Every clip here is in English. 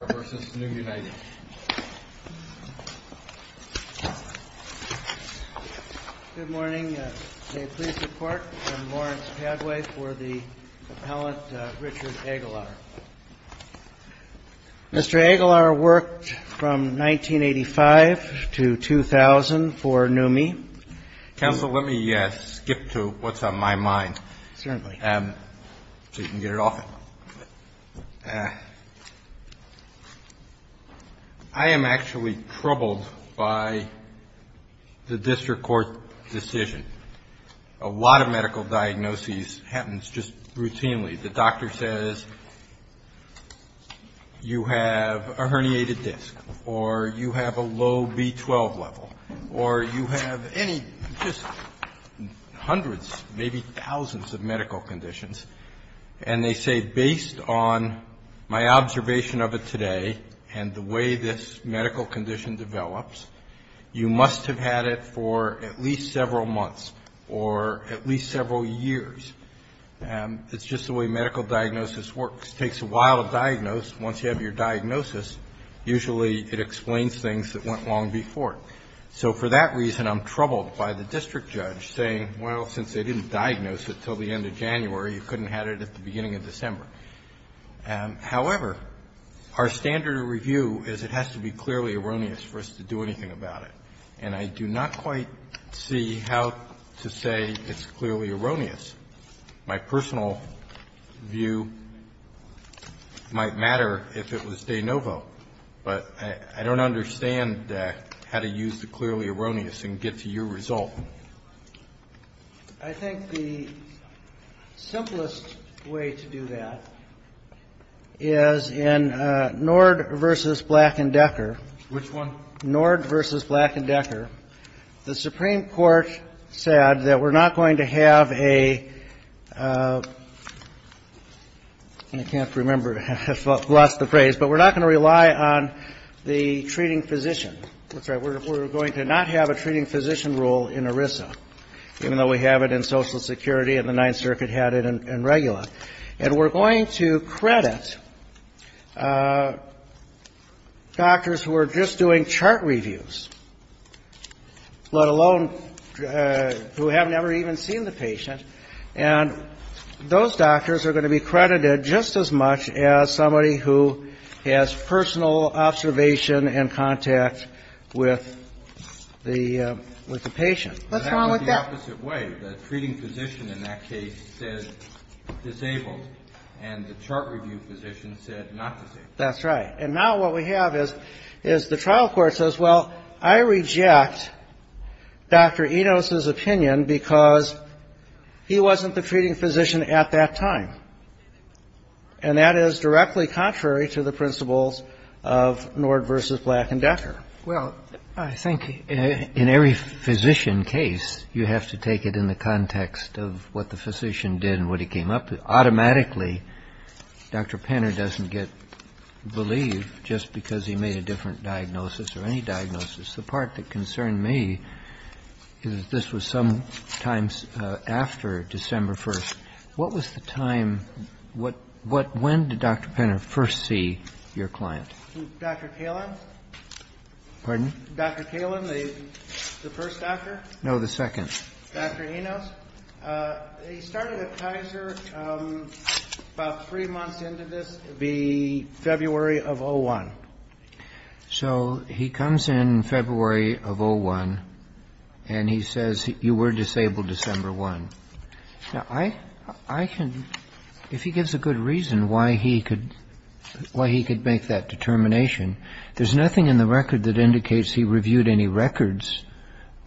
Good morning. May it please the Court, I'm Lawrence Padway for the appellant Richard Aguilar. Mr. Aguilar worked from 1985 to 2000 for NUMMI. Counsel, let me skip to what's on my mind so you can get it off. I am actually troubled by the district court decision. A lot of medical diagnoses happens just routinely. The doctor says you have a herniated disc or you have a low B12 level or you have any, just hundreds, maybe thousands of medical conditions. And they say based on my observation of it today and the way this medical condition develops, you must have had it for at least several months or at least several years. It's just the way medical diagnosis works. It takes a while to diagnose. Once you have your diagnosis, usually it explains things that went long before. So for that reason, I'm troubled by the district judge saying, well, since they didn't diagnose it until the end of January, you couldn't have it at the beginning of December. However, our standard of review is it has to be clearly erroneous for us to do anything about it. And I do not quite see how to say it's clearly erroneous. My personal view might matter if it was de novo, but I don't understand how to use the clearly erroneous and get to your result. I think the simplest way to do that is in Nord v. Black and Decker. Which one? Nord v. Black and Decker. The Supreme Court said that we're not going to have a – I can't remember if I've lost the phrase – but we're not going to rely on the treating physician. We're going to not have a treating physician role in ERISA, even though we have it in Social Security and the Ninth Circuit had it in Regula. And we're going to credit doctors who are just doing chart reviews, let alone who have never even seen the patient. And those doctors are going to be credited just as much as somebody who has personal observation and contact with the patient. What's wrong with that? That's the opposite way. The treating physician in that case said disabled, and the chart review physician said not disabled. That's right. And now what we have is the trial court says, well, I reject Dr. Enos's opinion because he wasn't the treating physician at that time. And that is directly contrary to the principles of Nord v. Black and Decker. Well, I think in every physician case, you have to take it in the context of what the physician did and what he came up with. Automatically, Dr. Penner doesn't get believed just because he made a different diagnosis or any diagnosis. The part that concerned me is this was some time after December 1st. What was the time? When did Dr. Penner first see your client? Dr. Kalin? Pardon? Dr. Kalin, the first doctor? No, the second. Dr. Enos? He started at Kaiser about three months into this, the February of 2001. So he comes in February of 01, and he says, you were disabled December 1. Now, I can, if he gives a good reason why he could make that determination, there's nothing in the record that indicates he reviewed any records,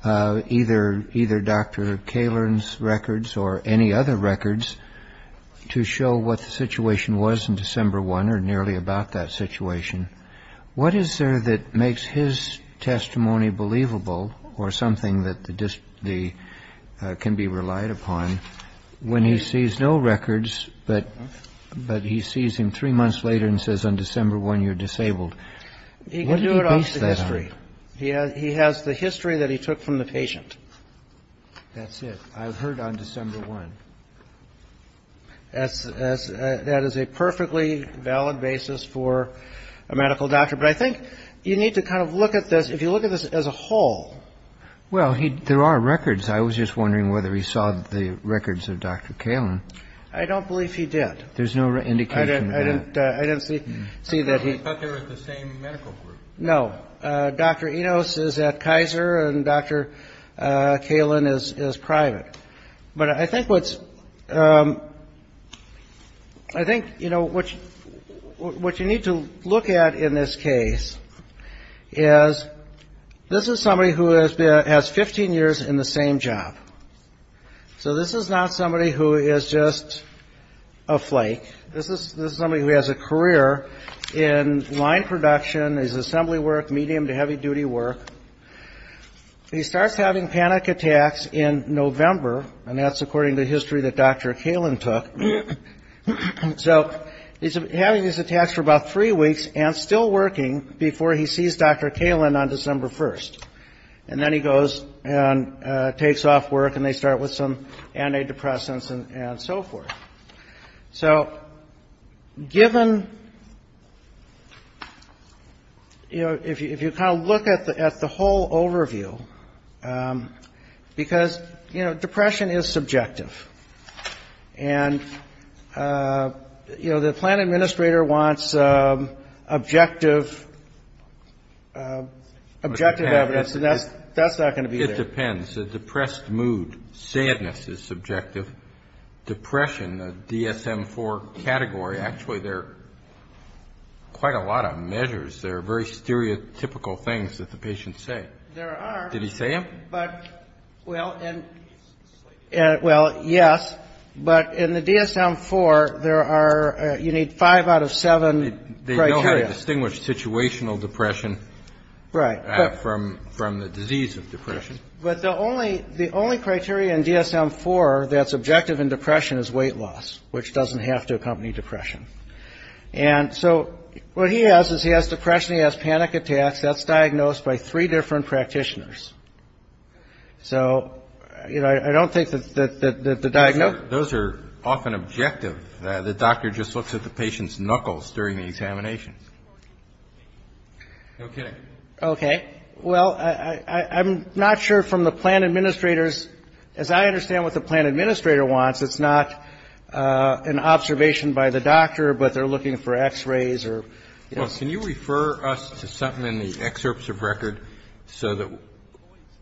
either Dr. Kalin's records or any other records to show what the situation was in December 1 or nearly about that situation. What is there that makes his testimony believable or something that can be relied upon when he sees no records, but he sees him three months later and says, on December 1, you're disabled? He can do it off the history. He has the history that he took from the patient. That's it. I've heard on December 1. That is a perfectly valid basis for a medical doctor. But I think you need to kind of look at this, if you look at this as a whole. Well, there are records. I was just wondering whether he saw the records of Dr. Kalin. I don't believe he did. There's no indication of that. I didn't see that. I thought they were the same medical group. No. Dr. Enos is at Kaiser, and Dr. Kalin is private. But I think what you need to look at in this case is, this is somebody who has 15 years in the same job. So this is not somebody who is just a flake. This is somebody who has a career in line production, is assembly work, medium to heavy duty work. He starts having panic attacks in November, and that's according to the history that Dr. Kalin took. So he's having these attacks for about three weeks and still working before he sees Dr. Kalin on December 1. And then he goes and takes off work, and they start with some antidepressants and so forth. So given, you know, if you kind of look at the whole overview, because, you know, depression is subjective. And, you know, the plan administrator wants objective evidence, and that's not going to be there. It depends. A depressed mood, sadness is subjective. Depression, the DSM-IV category, actually there are quite a lot of measures. There are very stereotypical things that the patients say. There are. Did he say them? But, well, yes, but in the DSM-IV, there are, you need five out of seven criteria. They know how to distinguish situational depression from the disease of depression. But the only criteria in DSM-IV that's objective in depression is weight loss, which doesn't have to accompany depression. And so what he has is he has depression, he has panic attacks. That's diagnosed by three different practitioners. So, you know, I don't think that the diagnosis. Those are often objective. The doctor just looks at the patient's knuckles during the examinations. No kidding. Okay. Well, I'm not sure from the plan administrator's, as I understand what the plan administrator wants, it's not an observation by the doctor, but they're looking for x-rays or. Well, can you refer us to something in the excerpts of record so that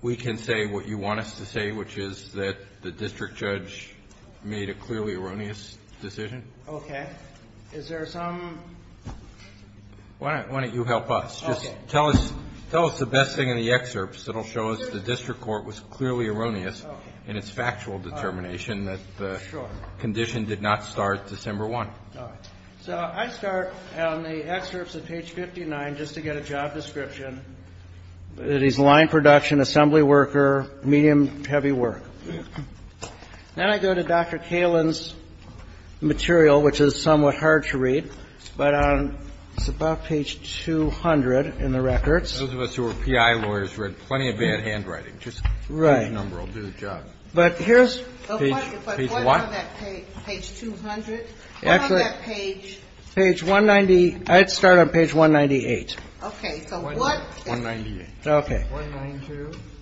we can say what you want us to say, which is that the district judge made a clearly erroneous decision? Okay. Is there some. Why don't you help us? Just tell us the best thing in the excerpts. It'll show us the district court was clearly erroneous in its factual determination that the condition did not start December 1. So I start on the excerpts of page 59 just to get a job description. It is line production, assembly worker, medium heavy work. Then I go to Dr. Kalin's material, which is somewhat hard to read, but it's about page 200 in the records. Those of us who are P.I. lawyers read plenty of bad handwriting. Just write a number. I'll do the job. But here's what page 200 actually page page 190. I'd start on page 198. Okay. So what? One ninety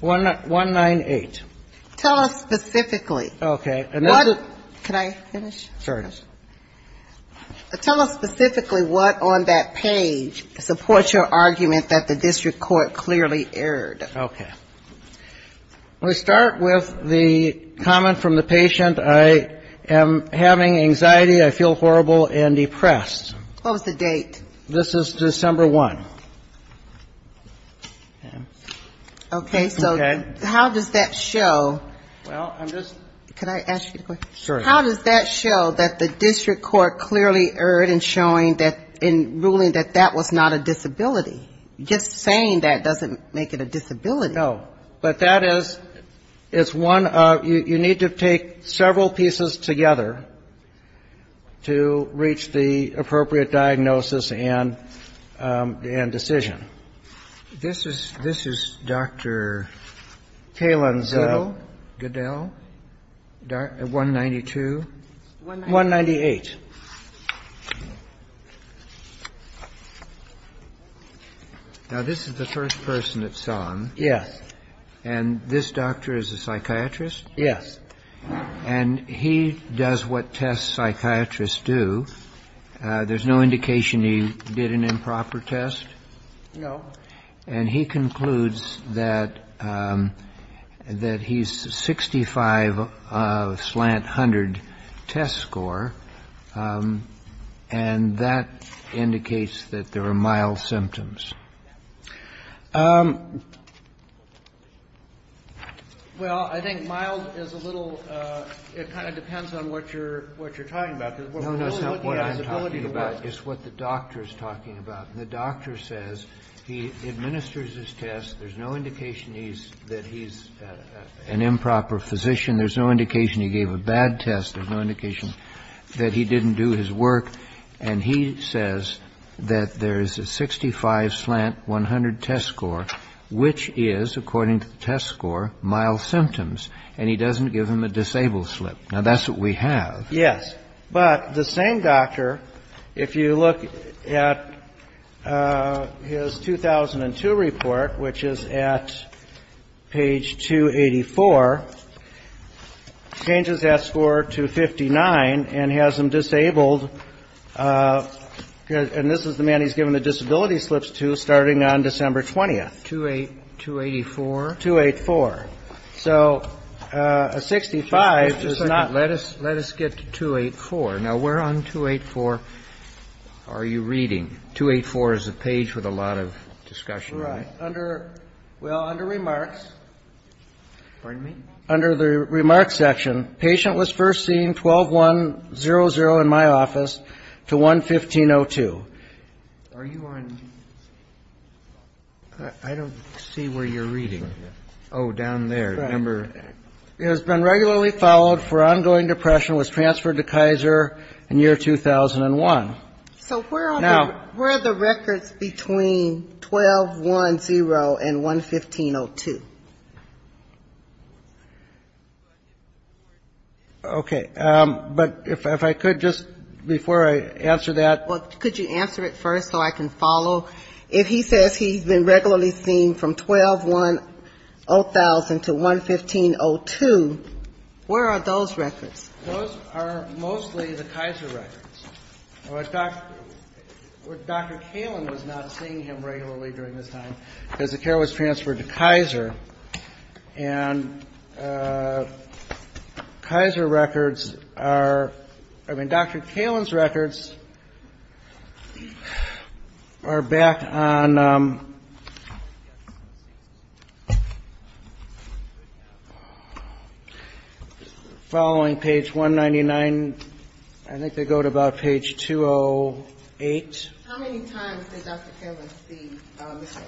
one nine eight. Tell us specifically. Okay. Can I finish? Sure. Tell us specifically what on that page supports your argument that the district court clearly erred. Okay. We start with the comment from the patient. I am having anxiety. I feel horrible and depressed. What was the date? This is December 1. Okay. So how does that show? Well, I'm just. Could I ask you a question? Sure. How does that show that the district court clearly erred in showing that in ruling that that was not a disability? Just saying that doesn't make it a disability. No. But that is, it's one of, you need to take several pieces together to reach the appropriate diagnosis and decision. This is this is Dr. Kalin. So good deal. One ninety two one one ninety eight. Now this is the first person that's on. Yes. And this doctor is a psychiatrist. Yes. And he does what test psychiatrists do. There's no indication he did an improper test. No. And he concludes that that he's sixty five slant hundred test score and that indicates that there are mild symptoms. Well, I think mild is a little it kind of depends on what you're what you're talking about. No, no. So what I'm talking about is what the doctor is talking about. And the doctor says he administers his test. There's no indication he's that he's an improper physician. There's no indication he gave a bad test. There's no indication that he didn't do his work. And he says that there is a sixty five slant one hundred test score, which is, according to the test score, mild symptoms. And he doesn't give him a disabled slip. Now, that's what we have. Yes. But the same doctor, if you look at his 2002 report, which is at page 284, changes that score to fifty nine and has him disabled. And this is the man he's given the disability slips to starting on December 20th to a two eighty four to eight four. So a sixty five does not. Let us let us get to two eight four. Now we're on two eight four. Are you reading two eight four is a page with a lot of discussion under. Well, under remarks, pardon me, under the remarks section, patient was first seen twelve one zero zero in my office to one fifteen oh two. Are you on. I don't see where you're reading. Oh, down there. Remember, it has been regularly followed for ongoing depression, was transferred to Kaiser in year 2001. So where are now where are the records between twelve one zero and one fifteen oh two. OK, but if I could just before I answer that, could you answer it first so I can follow if he says he's been regularly seen from twelve one oh thousand to one fifteen oh two. Where are those records? Those are mostly the Kaiser records. Well, it's not what Dr. Kalin was not seeing him regularly during this time because the care was transferred to Kaiser and Kaiser records are I mean, Dr. Kalin's records are back on following page one ninety nine. I think they go to about page two oh eight. How many times did Dr. Kalin see Mr.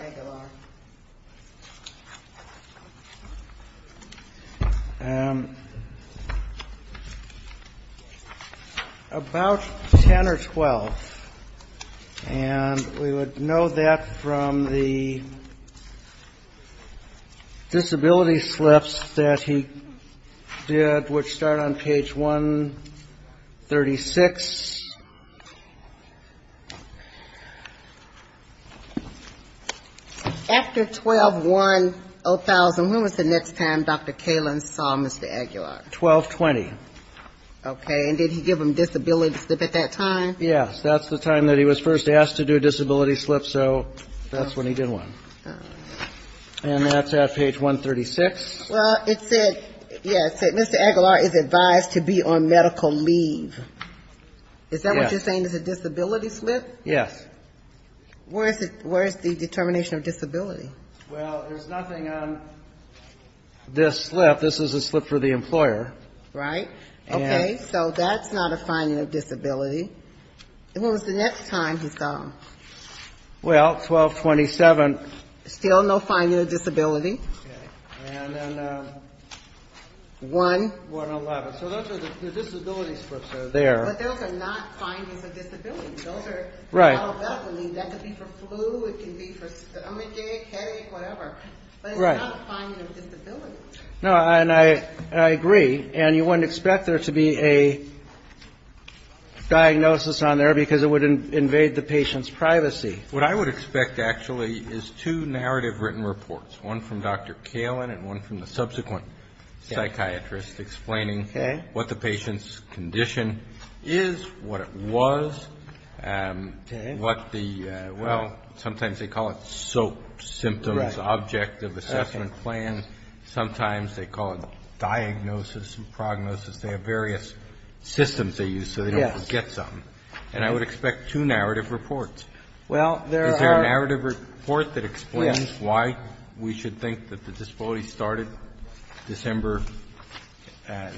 Aguilar? About ten or twelve, and we would know that from the disability slips that he did, which start on page one thirty six. After twelve one oh thousand, when was the next time Dr. Kalin saw Mr. Aguilar? Twelve twenty. OK, and did he give him disability slip at that time? Yes, that's the time that he was first asked to do a disability slip. So that's when he did one. And that's at page one thirty six. Well, it said, yes, Mr. Aguilar is advised to be on medical leave. Is that what you're saying is a disability slip? Yes. Where is it? Where is the determination of disability? Well, there's nothing on this slip. This is a slip for the employer. Right. OK, so that's not a finding of disability. And what was the next time he saw him? Well, twelve twenty seven. Still no finding of disability. And then one. One eleven. So those are the disability slips that are there. But those are not findings of disability. Those are. Right. That could be for flu. It can be for stomachache, headache, whatever. But it's not a finding of disability. No, and I agree. And you wouldn't expect there to be a diagnosis on there because it would invade the patient's privacy. What I would expect, actually, is two narrative written reports, one from Dr. Kalin and one from the subsequent psychiatrist explaining what the patient's condition is, what it was. What the well, sometimes they call it soap symptoms, object of assessment plan. Sometimes they call it diagnosis and prognosis. They have various systems they use so they don't forget something. And I would expect two narrative reports. Well, there is a narrative report that explains why we should think that the disability started December,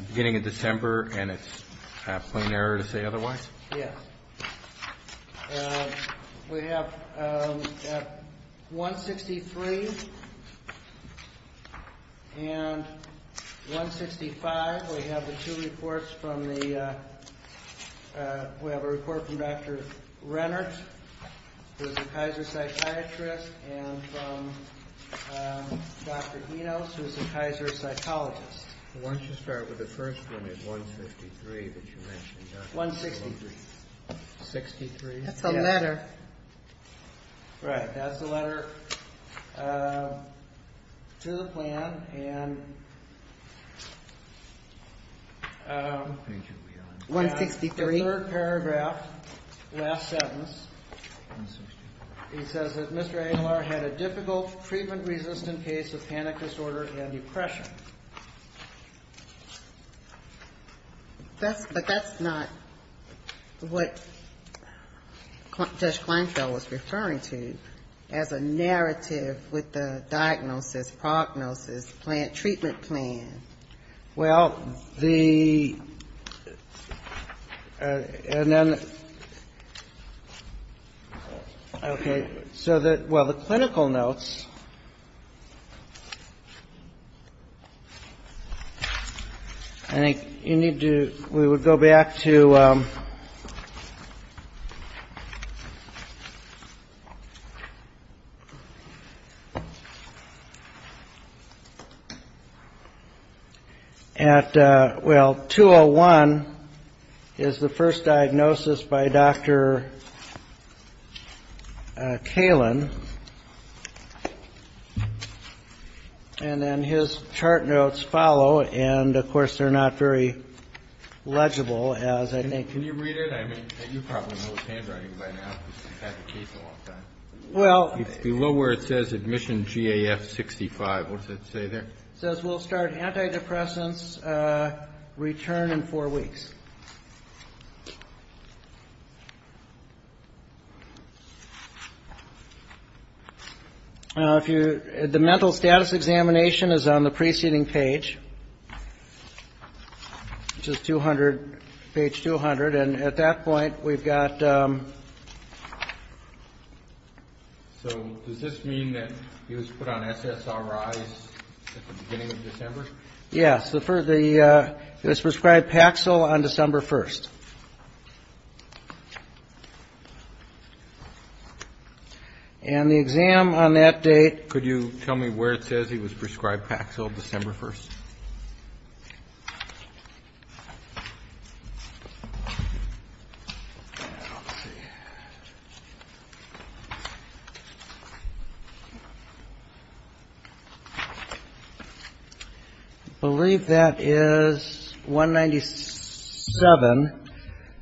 beginning of December. And it's a plain error to say otherwise. Yes, we have 163 and 165. We have the two reports from the, we have a report from Dr. Rennert, who is a Kaiser psychiatrist, and from Dr. Enos, who is a Kaiser psychologist. Why don't you start with the first one at 153 that you mentioned. 163, that's a letter, right? That's the letter to the plan. And 163, the third paragraph, last sentence, it says that Mr. Engelar had a difficult, treatment-resistant case of panic disorder and depression. That's, but that's not what Judge Kleinfeld was referring to as a narrative with the diagnosis, prognosis, plan, treatment plan. Well, the, and then, okay, so that, well, the clinical notes. I think you need to, we would go back to, at, well, 201 is the first diagnosis by Dr. Kalin, and then his chart notes follow, and, of course, they're not very legible, as I think. Can you read it? I mean, you probably know his handwriting by now, because he's had the case a long time. Well. It's below where it says admission GAF 65. What does it say there? It says we'll start antidepressants, return in four weeks. Now, if you, the mental status examination is on the preceding page, which is 200, page 200. And at that point, we've got. So does this mean that he was put on SSRIs at the beginning of December? Yes. So for the, he was prescribed Paxil on December 1st. And the exam on that date. Could you tell me where it says he was prescribed Paxil December 1st? I believe that is 197.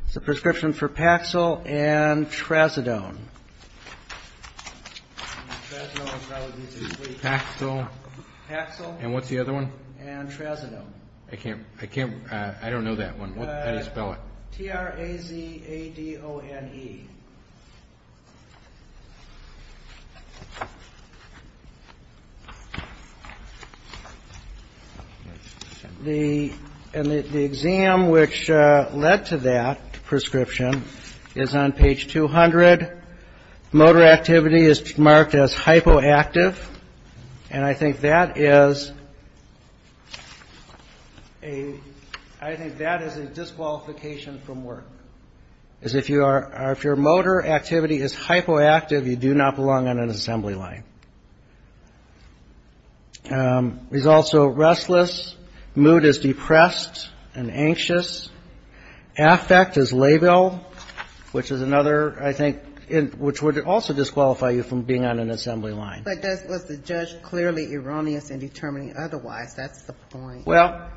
It's a prescription for Paxil and Tracidone. And Tracidone is probably the easiest way to spell it. Paxil. Paxil. And what's the other one? And Tracidone. I can't, I can't, I don't know that one. How do you spell it? T-R-A-Z-A-D-O-N-E. The, and the exam which led to that prescription is on page 200. Motor activity is marked as hypoactive. And I think that is a, I think that is a disqualification from work. Is if you are, if your motor activity is hypoactive, you do not belong on an assembly line. He's also restless. Mood is depressed and anxious. Affect is labile, which is another, I think, which would also disqualify you from being on an assembly line. But that was the judge clearly erroneous in determining otherwise. That's the point. Well,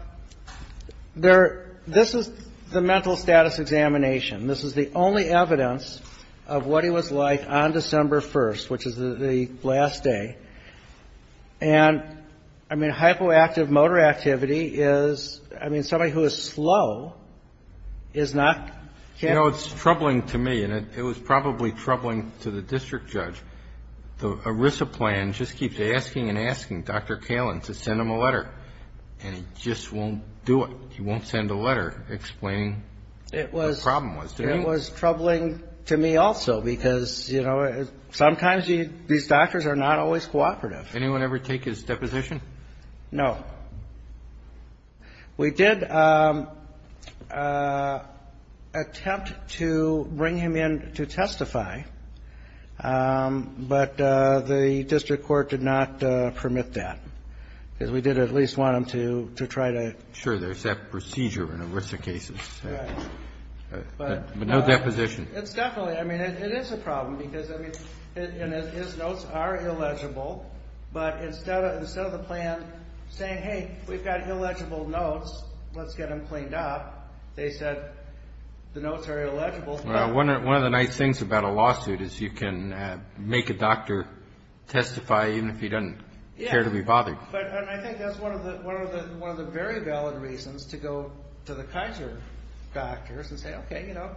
there, this is the mental status examination. This is the only evidence of what he was like on December 1st, which is the last day. And I mean, hypoactive motor activity is, I mean, somebody who is slow is not. You know, it's troubling to me and it was probably troubling to the district judge. The ERISA plan just keeps asking and asking Dr. Miller a letter and he just won't do it. He won't send a letter explaining what the problem was. It was troubling to me also because, you know, sometimes these doctors are not always cooperative. Anyone ever take his deposition? No. We did attempt to bring him in to testify, but the district court did not permit that. Because we did at least want him to try to. Sure, there's that procedure in ERISA cases. But no deposition. It's definitely, I mean, it is a problem because, I mean, his notes are illegible. But instead of the plan saying, hey, we've got illegible notes, let's get them cleaned up, they said the notes are illegible. One of the nice things about a lawsuit is you can make a doctor testify even if he doesn't care to be bothered. But I think that's one of the very valid reasons to go to the Kaiser doctors and say, OK, you know,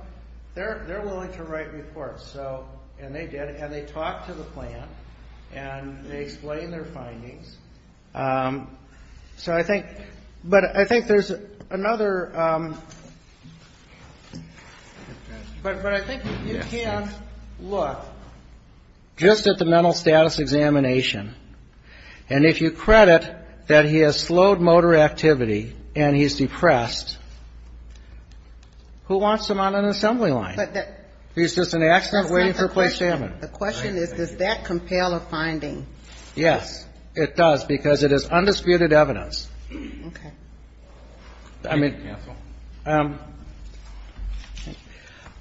they're willing to write reports. So and they did and they talked to the plan and they explained their findings. So I think but I think there's another. But I think you can look just at the mental status examination. And if you credit that he has slowed motor activity and he's depressed. Who wants him on an assembly line? He's just an accident waiting for a place to happen. The question is, does that compel a finding? Yes, it does, because it is undisputed evidence. OK. I mean,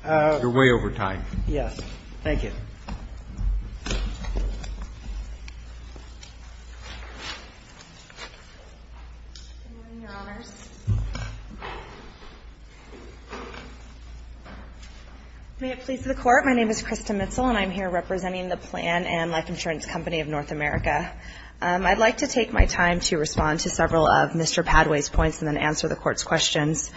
you're way over time. Yes. Thank you. May it please the Court. My name is Krista Mitchell and I'm here representing the plan and life insurance company of North America. I'd like to take my time to respond to several of Mr. Padway's points and then answer the court's questions.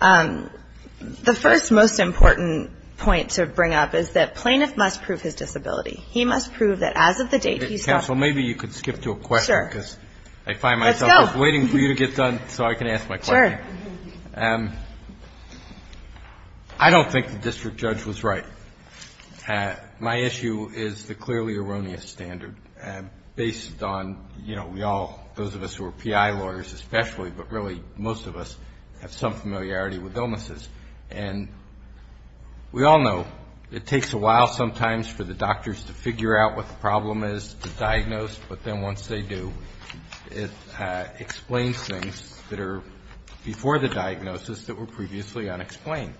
The first most important point to bring up is that plaintiff must prove his disability. He must prove that as of the date he's counsel. Maybe you could skip to a question because I find myself waiting for you to get done so I can ask my chair. I don't think the district judge was right. My issue is the clearly erroneous standard based on, you know, we all, those of us who are P.I. lawyers especially, but really most of us have some familiarity with illnesses. And we all know it takes a while sometimes for the doctors to figure out what the problem is to diagnose. But then once they do, it explains things that are before the diagnosis that were previously unexplained.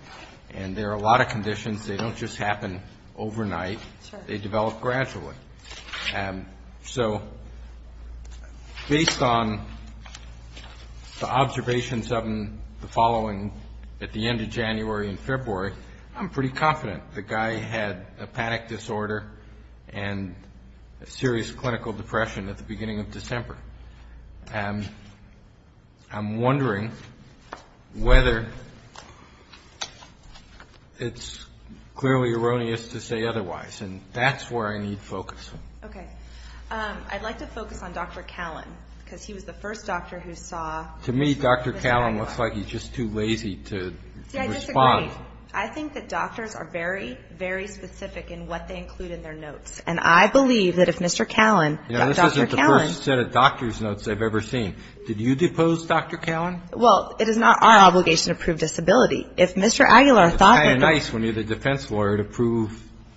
And there are a lot of conditions. They don't just happen overnight. They develop gradually. So based on the observations of the following at the end of January and February, I'm pretty confident the guy had a panic disorder and a serious clinical depression at the beginning of December. And I'm wondering whether it's clearly erroneous to say otherwise. And that's where I need focus. Okay. I'd like to focus on Dr. Callan because he was the first doctor who saw. To me, Dr. Callan looks like he's just too lazy to respond. I think that doctors are very, very specific in what they include in their notes. And I believe that if Mr. Callan, this isn't the first set of doctor's notes I've ever seen. Did you depose Dr. Callan? Well, it is not our obligation to prove disability. If Mr. Aguilar thought. It's kind of nice when you're the defense lawyer to prove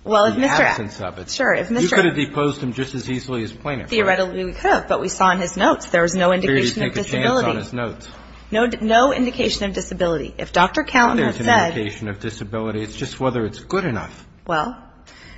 the absence of it. Sure. If you could have deposed him just as easily as plaintiff. Theoretically, we could have, but we saw in his notes, there was no indication of disability, no indication of disability. If Dr. Callan had said. There's no indication of disability. It's just whether it's good enough. Well,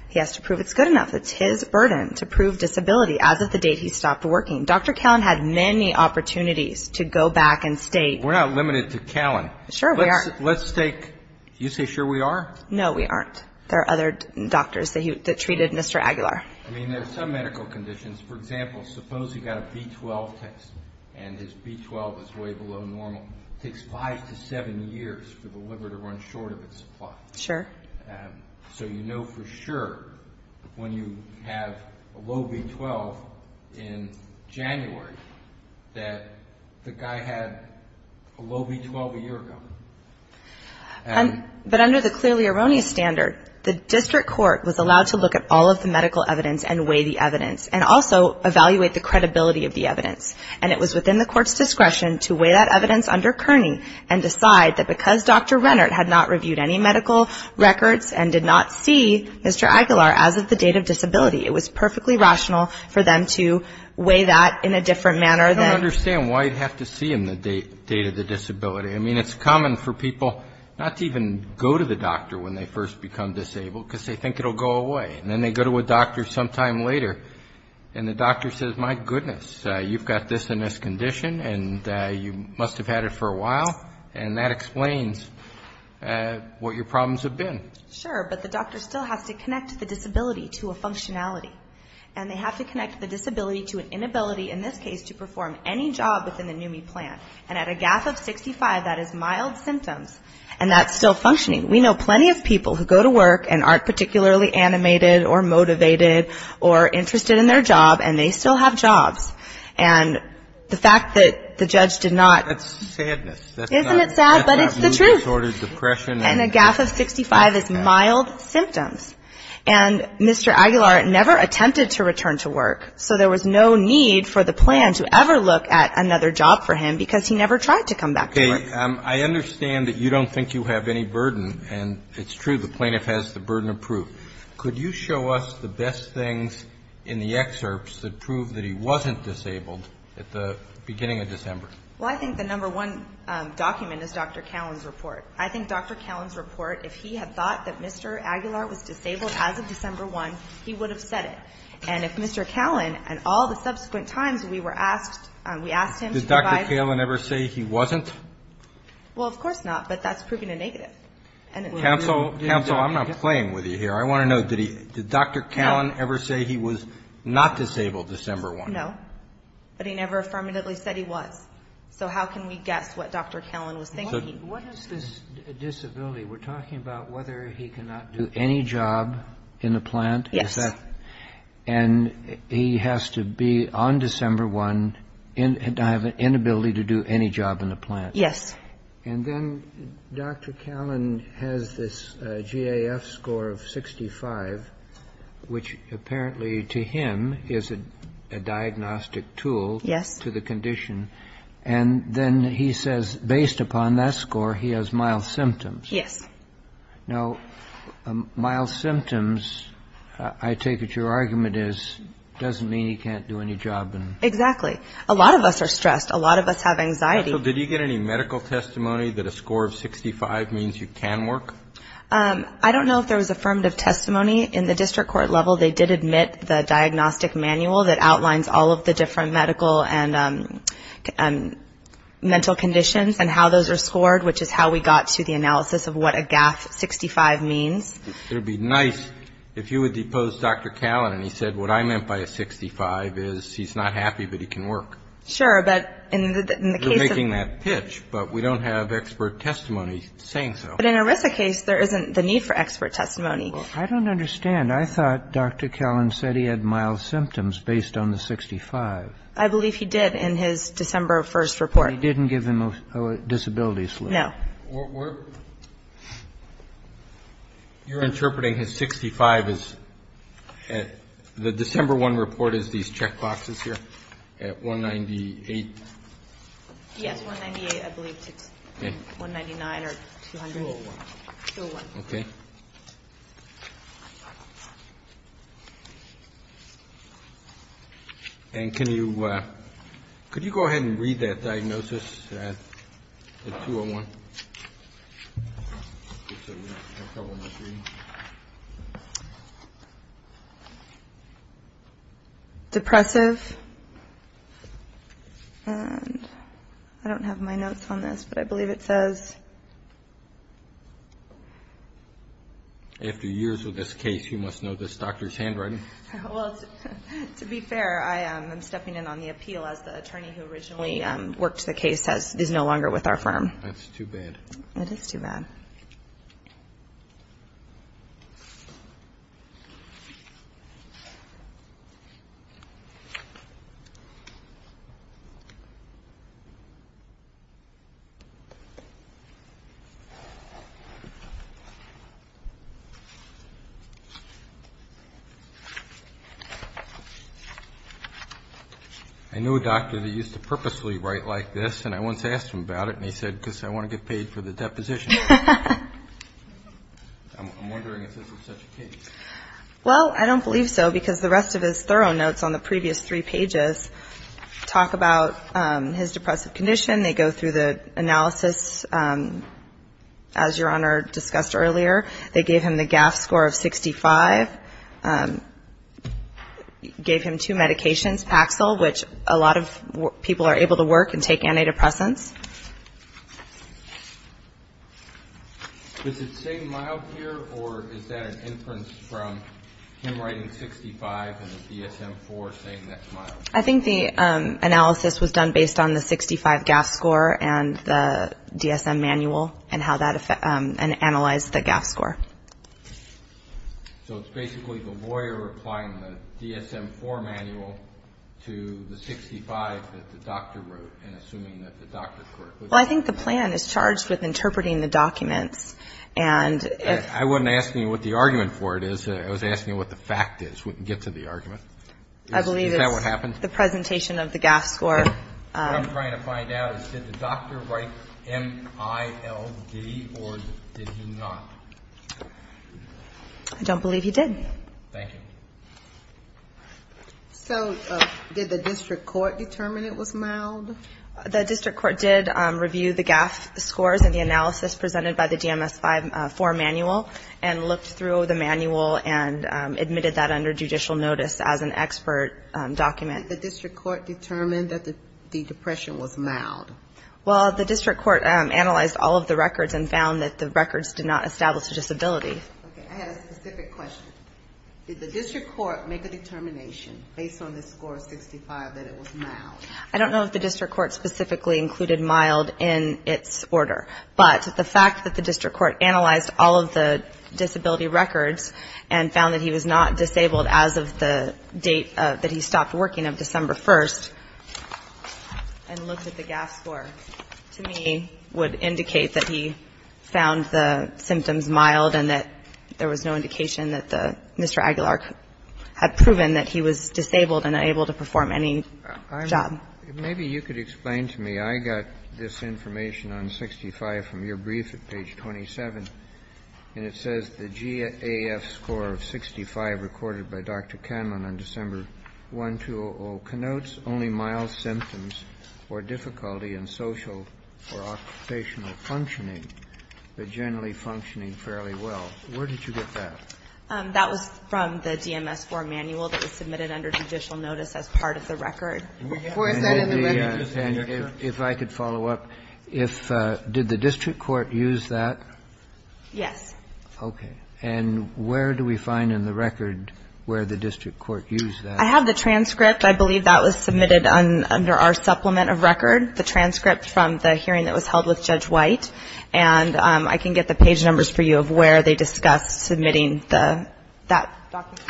he has to prove it's good enough. It's his burden to prove disability. As of the date, he stopped working. Dr. Callan had many opportunities to go back and state. We're not limited to Callan. Sure. Let's take, you say sure we are? No, we aren't. There are other doctors that he treated Mr. Aguilar. I mean, there's some medical conditions. For example, suppose he got a B12 test and his B12 is way below normal. It takes five to seven years for the liver to run short of its supply. Sure. So, you know, for sure, when you have a low B12 in January, that the guy had a low B12 a year ago. But under the clearly erroneous standard, the district court was allowed to look at all of the medical evidence and weigh the evidence and also evaluate the credibility of the evidence. And it was within the court's discretion to weigh that evidence under Kearney and decide that because Dr. Rennert had not reviewed any medical records and did not see Mr. Aguilar as of the date of disability, it was perfectly rational for them to weigh that in a different manner. I don't understand why you'd have to see him the date of the disability. I mean, it's common for people not to even go to the doctor when they first become disabled because they think it'll go away. And then they go to a doctor sometime later. And the doctor says, my goodness, you've got this and this condition and you must have had it for a while. And that explains what your problems have been. Sure. But the doctor still has to connect the disability to a functionality. And they have to connect the disability to an inability, in this case, to perform any job within the NUMMI plan. And at a gap of 65, that is mild symptoms. And that's still functioning. We know plenty of people who go to work and aren't particularly animated or motivated or interested in their job, and they still have jobs. And the fact that the judge did not. That's sadness. Isn't it sad? But it's the truth. That's not mood disorder, depression. And a gap of 65 is mild symptoms. And Mr. Aguilar never attempted to return to work. So there was no need for the plan to ever look at another job for him because he never tried to come back to work. I understand that you don't think you have any burden. And it's true. The plaintiff has the burden of proof. Could you show us the best things in the excerpts that prove that he wasn't disabled at the beginning of December? Well, I think the number one document is Dr. Callan's report. I think Dr. Callan's report, if he had thought that Mr. Aguilar was disabled as of December 1, he would have said it. And if Mr. Callan and all the subsequent times we were asked, we asked him to provide. Did Dr. Callan ever say he wasn't? Well, of course not, but that's proving a negative. And counsel, counsel, I'm not playing with you here. I want to know, did Dr. Callan ever say he was not disabled December 1? No, but he never affirmatively said he was. So how can we guess what Dr. Callan was thinking? What is this disability? We're talking about whether he cannot do any job in the plant. Yes. And he has to be on December 1 and have an inability to do any job in the plant. Yes. And then Dr. Callan has this GAF score of 65, which apparently to him is a diagnostic tool. Yes. To the condition. And then he says, based upon that score, he has mild symptoms. Yes. Now, mild symptoms, I take it your argument is doesn't mean he can't do any job. Exactly. A lot of us are stressed. A lot of us have anxiety. Did he get any medical testimony that a score of 65 means you can work? I don't know if there was affirmative testimony in the district court level. They did admit the diagnostic manual that outlines all of the different medical and mental conditions and how those are scored, which is how we got to the analysis of what a GAF 65 means. It would be nice if you would depose Dr. Callan. And he said, what I meant by a 65 is he's not happy, but he can work. Sure. But in the case of making that pitch, but we don't have expert testimony saying so. But in a RISA case, there isn't the need for expert testimony. I don't understand. I thought Dr. Callan said he had mild symptoms based on the 65. I believe he did in his December 1st report. He didn't give them a disability. No. You're interpreting his 65 as the December 1 report as these checkboxes here at 198? Yes, 198, I believe it's 199 or 201. Okay. And can you go ahead and read that diagnosis at 201? Depressive, I don't have my notes on this, but I believe it says. After years with this case, you must know this doctor's handwriting. Well, to be fair, I am stepping in on the appeal as the attorney who originally worked the case is no longer with our firm. That's too bad. It is too bad. I know a doctor that used to purposely write like this, and I once asked him about it, and he said, because I want to get paid for the deposition. I'm wondering if this was such a case. Well, I don't believe so because the rest of his thorough notes on the previous three pages talk about his depressive condition. They go through the analysis as your honor discussed earlier. They gave him the GAF score of 65, gave him two medications, Paxil, which a lot of people are able to work and take antidepressants. Is it saying mild here, or is that an inference from him writing 65 and the DSM-IV saying that's mild? I think the analysis was done based on the 65 GAF score and the DSM manual and how that, and analyzed the GAF score. So it's basically the lawyer applying the DSM-IV manual to the 65 that the doctor wrote and assuming that the doctor. Well, I think the plan is charged with interpreting the documents, and if. I wasn't asking what the argument for it is. I was asking what the fact is. We can get to the argument. I believe that what happened. The presentation of the GAF score. What I'm trying to find out is did the doctor write M-I-L-D, or did he not? I don't believe he did. Thank you. So did the district court determine it was mild? The district court did review the GAF scores and the analysis presented by the DMS-IV manual, and looked through the manual and admitted that under judicial notice as an expert document. Did the district court determine that the depression was mild? Well, the district court analyzed all of the records and found that the records did not establish a disability. I had a specific question. Did the district court make a determination based on the score of 65 that it was mild? I don't know if the district court specifically included mild in its order, but the fact that the district court analyzed all of the disability records and found that he was not disabled as of the date that he stopped working of December 1st, and looked at the GAF score, to me, would indicate that he found the symptoms mild and that there was no indication that Mr. Aguilar had proven that he was disabled and unable to perform any job. Maybe you could explain to me. I got this information on 65 from your brief at page 27, and it says the GAF score of 65 recorded by Dr. Canlon on December 1, 200, connotes only mild symptoms or difficulty in social or occupational functioning, but generally functioning fairly well. Where did you get that? That was from the DMS-IV manual that was submitted under judicial notice as part of the record. And if I could follow up, did the district court use that? Yes. Okay. And where do we find in the record where the district court used that? I have the transcript. I believe that was submitted under our supplement of record, the transcript from the hearing that was held with Judge White, and I can get the page numbers for you of where they discussed submitting that document.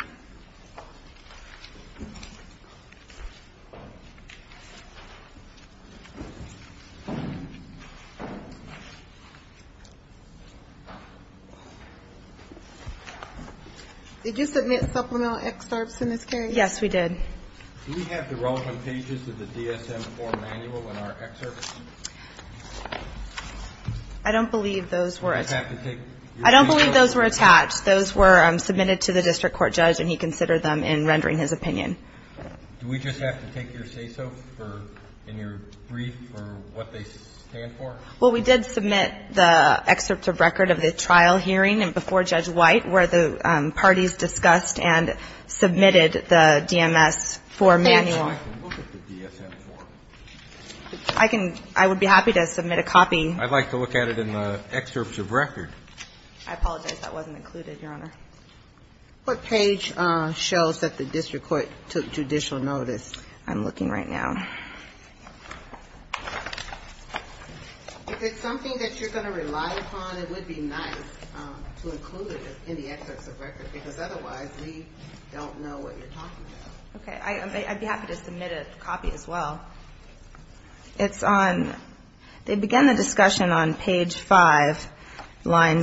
Did you submit supplemental excerpts in this case? Yes, we did. Do we have the relevant pages of the DSM-IV manual in our excerpts? I don't believe those were. I don't believe those were attached. Those were submitted to the district court judge, and he considered them in rendering his opinion. Do we just have to take your say-so in your brief for what they stand for? Well, we did submit the excerpts of record of the trial hearing before Judge White where the parties discussed and submitted the DMS-IV manual. I would be happy to submit a copy. I'd like to look at it in the excerpts of record. I apologize. That wasn't included, Your Honor. What page shall set the district court judicial notice? I'm looking right now. If it's something that you're going to rely upon, it would be nice to include it in the excerpts of record, because otherwise we don't know what you're talking about. Okay. I'd be happy to submit a copy as well. They begin the discussion on page 5, line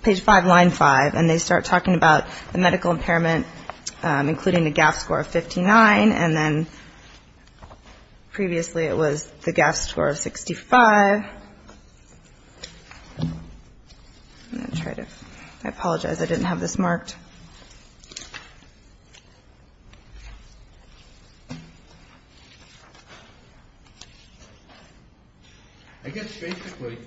5, and they start talking about the medical impairment, including the GAF score of 59, and then previously it was the GAF score of 65. I apologize. I didn't have this marked. I guess basically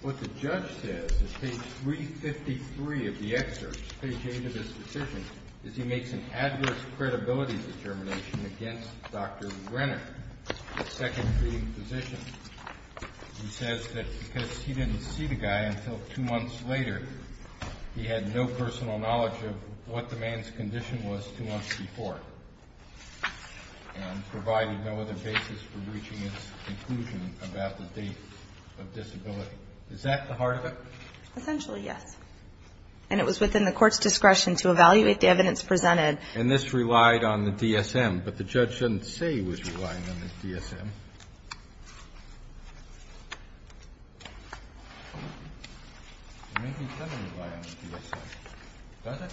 what the judge says is page 353 of the excerpt, page 8 of his decision, is he makes an adverse credibility determination against Dr. Renner, the second treating physician. He says that because he didn't see the guy until two months later, he had no personal knowledge of what the man's condition was two months before, and provided no other basis for reaching his conclusion about the date of disability. Is that the heart of it? Essentially, yes. And it was within the court's discretion to evaluate the evidence presented. And this relied on the DSM, but the judge didn't say he was relying on the DSM. It may be that it relied on the DSM. Does it?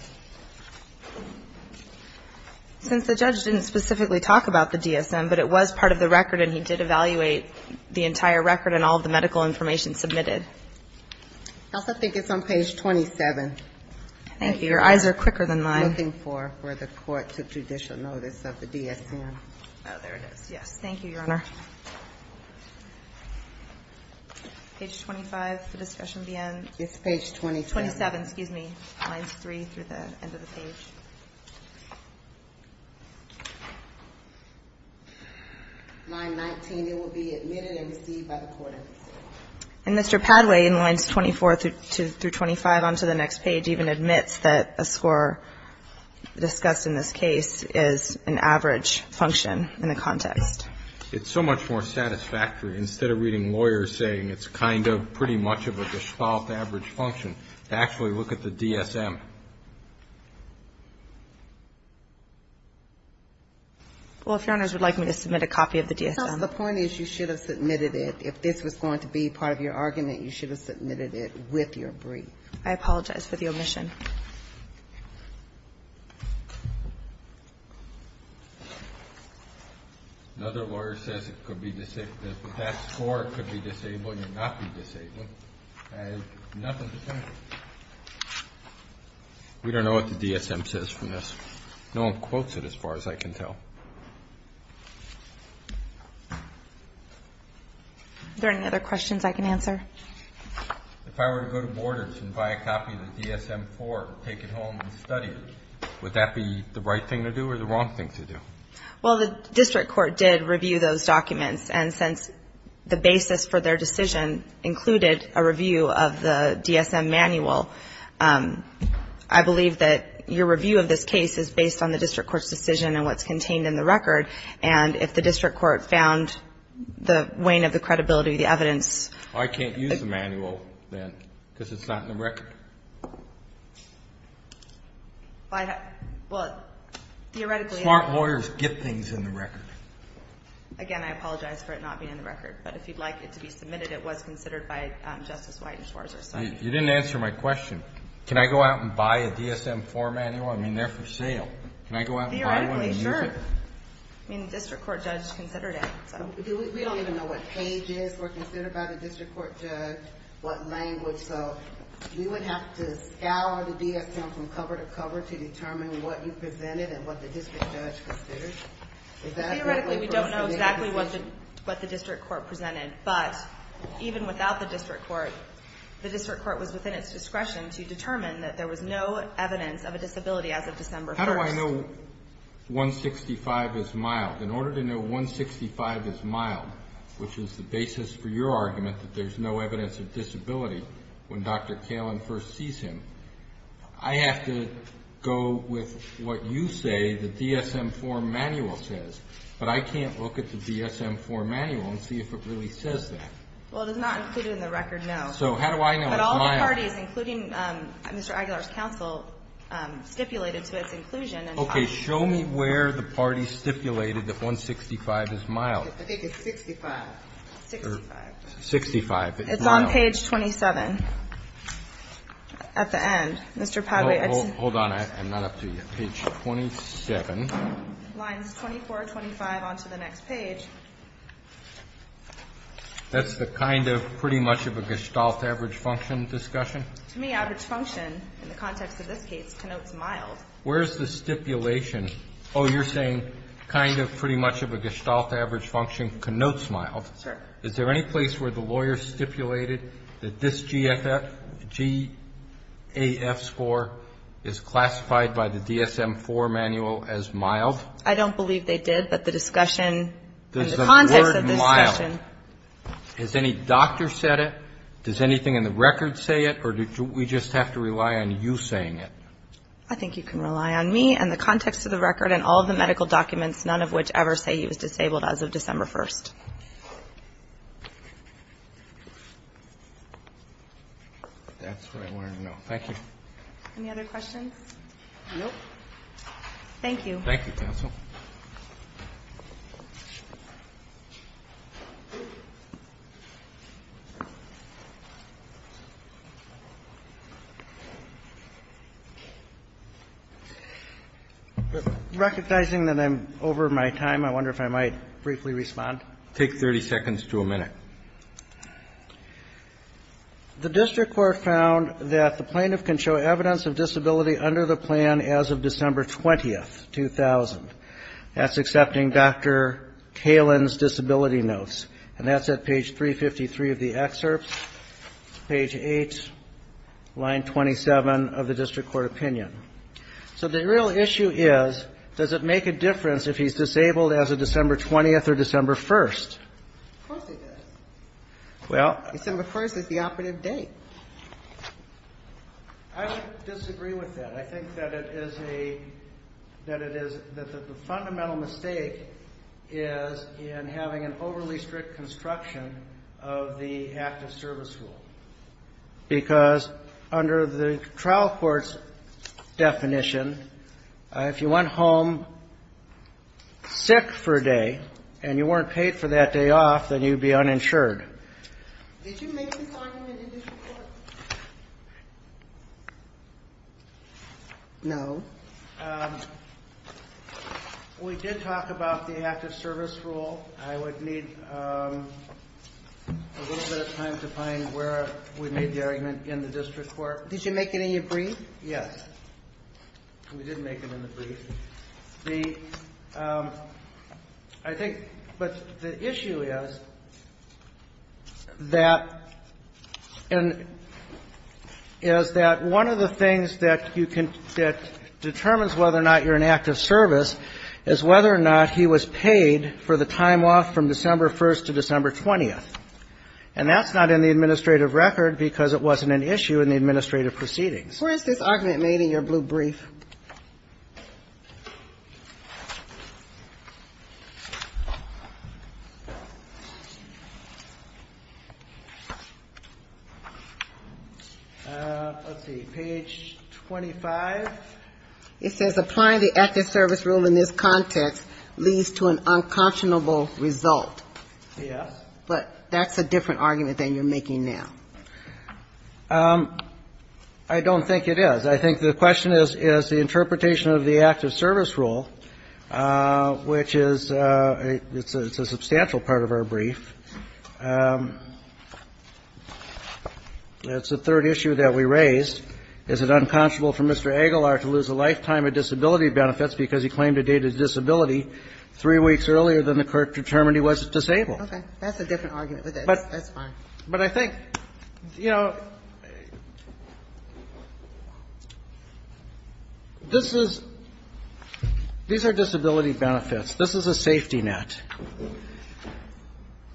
Since the judge didn't specifically talk about the DSM, but it was part of the record and he did evaluate the entire record and all of the medical information submitted. I also think it's on page 27. Thank you. Your eyes are quicker than mine. I'm looking for where the court took judicial notice of the DSM. Oh, there it is. Thank you, Your Honor. Page 25, the discussion at the end. It's page 27. 27, excuse me. Lines 3 through the end of the page. Line 19, it will be admitted and received by the court. And Mr. Padway, in lines 24 through 25 on to the next page, even admits that a score discussed in this case is an average function in the context. It's so much more satisfactory, instead of reading lawyers saying it's kind of pretty much of a gespalt average function, to actually look at the DSM. Well, if Your Honors would like me to submit a copy of the DSM. Well, the point is you should have submitted it. If this was going to be part of your argument, you should have submitted it with your brief. I apologize for the omission. Another lawyer says it could be disabled. If that score could be disabled and not be disabled, I have nothing to say. We don't know what the DSM says from this. No one quotes it, as far as I can tell. Are there any other questions I can answer? If I were to go to Borders and buy a copy of the DSM-IV and take it home and study it, would that be the right thing to do or the wrong thing to do? Well, the district court did review those documents, and since the basis for their decision included a review of the DSM manual, I believe that your review of this case is based on the district court's decision and what's contained in the record, and if the district court found the wane of the credibility, the evidence. Well, I can't use the manual then because it's not in the record. Smart lawyers get things in the record. Again, I apologize for it not being in the record, but if you'd like it to be submitted, it was considered by Justice White as far as our study. You didn't answer my question. Can I go out and buy a DSM-IV manual? I mean, they're for sale. Can I go out and buy one and use it? Theoretically, sure. I mean, the district court judge considered it. We don't even know what pages were considered by the district court judge, what language, so you would have to scour the DSM from cover to cover to determine what you presented and what the district judge considered? Theoretically, we don't know exactly what the district court presented, but even without the district court, the district court was within its discretion to determine that there was no evidence of a disability as of December 1. How do I know 165 is mild? In order to know 165 is mild, which is the basis for your argument that there's no evidence of disability when Dr. Kalin first sees him, I have to go with what you say the DSM-IV manual says, but I can't look at the DSM-IV manual and see if it really says that. Well, it is not included in the record, no. So how do I know it's mild? But all the parties, including Mr. Aguilar's counsel, stipulated to its inclusion. Okay. Show me where the parties stipulated that 165 is mild. I think it's 65. 65. 65. It's on page 27 at the end. Mr. Padway. Hold on. I'm not up to you. Page 27. Lines 24, 25 on to the next page. That's the kind of pretty much of a gestalt average function discussion? To me, average function in the context of this case connotes mild. Where is the stipulation? Oh, you're saying kind of pretty much of a gestalt average function connotes mild. Sure. Is there any place where the lawyer stipulated that this GFF, GAF score is classified by the DSM-IV manual as mild? I don't believe they did, but the discussion and the context of this discussion. Is the word mild? Has any doctor said it? Does anything in the record say it, or do we just have to rely on you saying it? I think you can rely on me and the context of the record and all of the medical documents, none of which ever say he was disabled as of December 1st. That's what I wanted to know. Thank you. Any other questions? No. Thank you. Thank you, counsel. Recognizing that I'm over my time, I wonder if I might briefly respond. Take 30 seconds to a minute. The district court found that the plaintiff can show evidence of disability under the plan as of December 20th, 2000. That's accepting Dr. Kalin's disability notes. And that's at page 353 of the excerpt, page 8, line 27 of the district court opinion. So the real issue is, does it make a difference if he's disabled as of December 20th or December 1st? Of course it does. Well. December 1st is the operative date. I disagree with that. I think that it is a – that it is – that the fundamental mistake is in having an overly strict construction of the active service rule. Because under the trial court's definition, if you went home sick for a day and you weren't paid for that day off, then you'd be uninsured. Did you make this argument in the district court? No. We did talk about the active service rule. I would need a little bit of time to find where we made the argument in the district court. Did you make it in your brief? Yes. We did make it in the brief. The – I think – but the issue is that – is that one of the things that you can – that determines whether or not you're in active service is whether or not he was paid for the time off from December 1st to December 20th. And that's not in the administrative record because it wasn't an issue in the administrative proceedings. Where is this argument made in your blue brief? Let's see. Page 25. It says applying the active service rule in this context leads to an unconscionable result. Yes. But that's a different argument than you're making now. I don't think it is. I think the question is, is the interpretation of the active service rule, which is – it's a substantial part of our brief. It's the third issue that we raised. Is it unconscionable for Mr. Aguilar to lose a lifetime of disability benefits because he claimed a dated disability three weeks earlier than the court determined he was disabled? Okay. That's a different argument. That's fine. But I think, you know, this is – these are disability benefits. This is a safety net.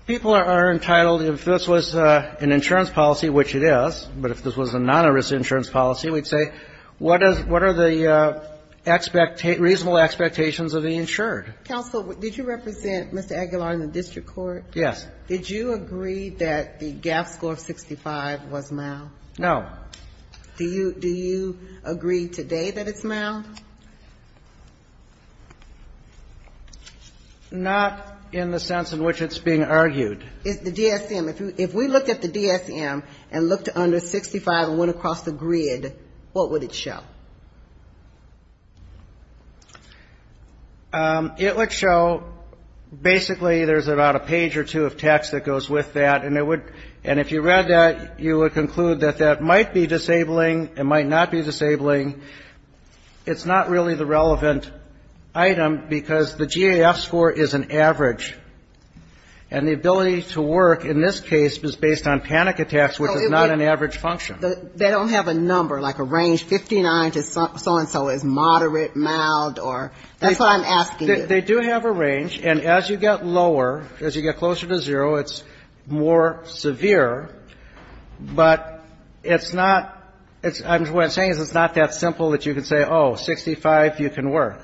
People are entitled – if this was an insurance policy, which it is, but if this was a non-injury insurance policy, we'd say, what are the reasonable expectations of the insured? Counsel, did you represent Mr. Aguilar in the district court? Yes. Did you agree that the GAAP score of 65 was mild? No. Do you agree today that it's mild? Not in the sense in which it's being argued. The DSM. If we looked at the DSM and looked under 65 and went across the grid, what would it show? It would show basically there's about a page or two of text that goes with that, and it would – and if you read that, you would conclude that that might be disabling, it might not be disabling. It's not really the relevant item because the GAAP score is an average, and the ability to work in this case is based on panic attacks, which is not an average function. They don't have a number, like a range, 59 to so-and-so is moderate, mild, or that's what I'm asking. They do have a range, and as you get lower, as you get closer to zero, it's more severe, but it's not – what I'm saying is it's not that simple that you can say, oh, 65 you can work,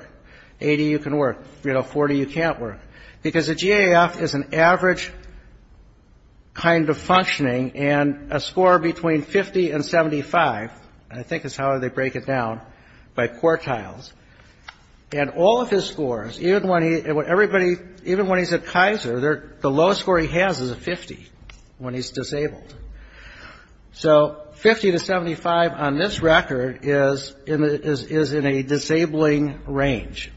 80 you can work, you know, 40 you can't work, because the GAAP is an average kind of functioning, and a score between 50 and 75, I think is how they break it down, by quartiles, and all of his scores, even when he – everybody – even when he's at Kaiser, the lowest score he has is a 50 when he's disabled. So 50 to 75 on this record is in a disabling range.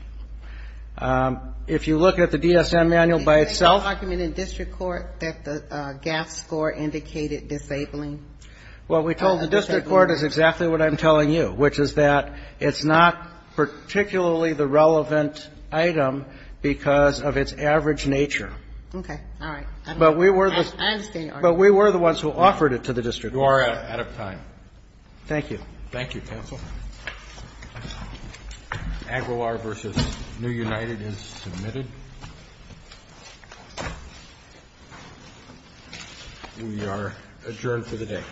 If you look at the DSM manual by itself. Ginsburg. Is there any argument in district court that the GAAP score indicated disabling? Carvin. Well, we told the district court is exactly what I'm telling you, which is that it's not particularly the relevant item because of its average nature. Ginsburg. Okay. All right. I understand your argument. Carvin. But we were the ones who offered it to the district court. You are out of time. Thank you. Thank you, counsel. Aguilar v. New United is submitted. We are adjourned for the day. Thank you.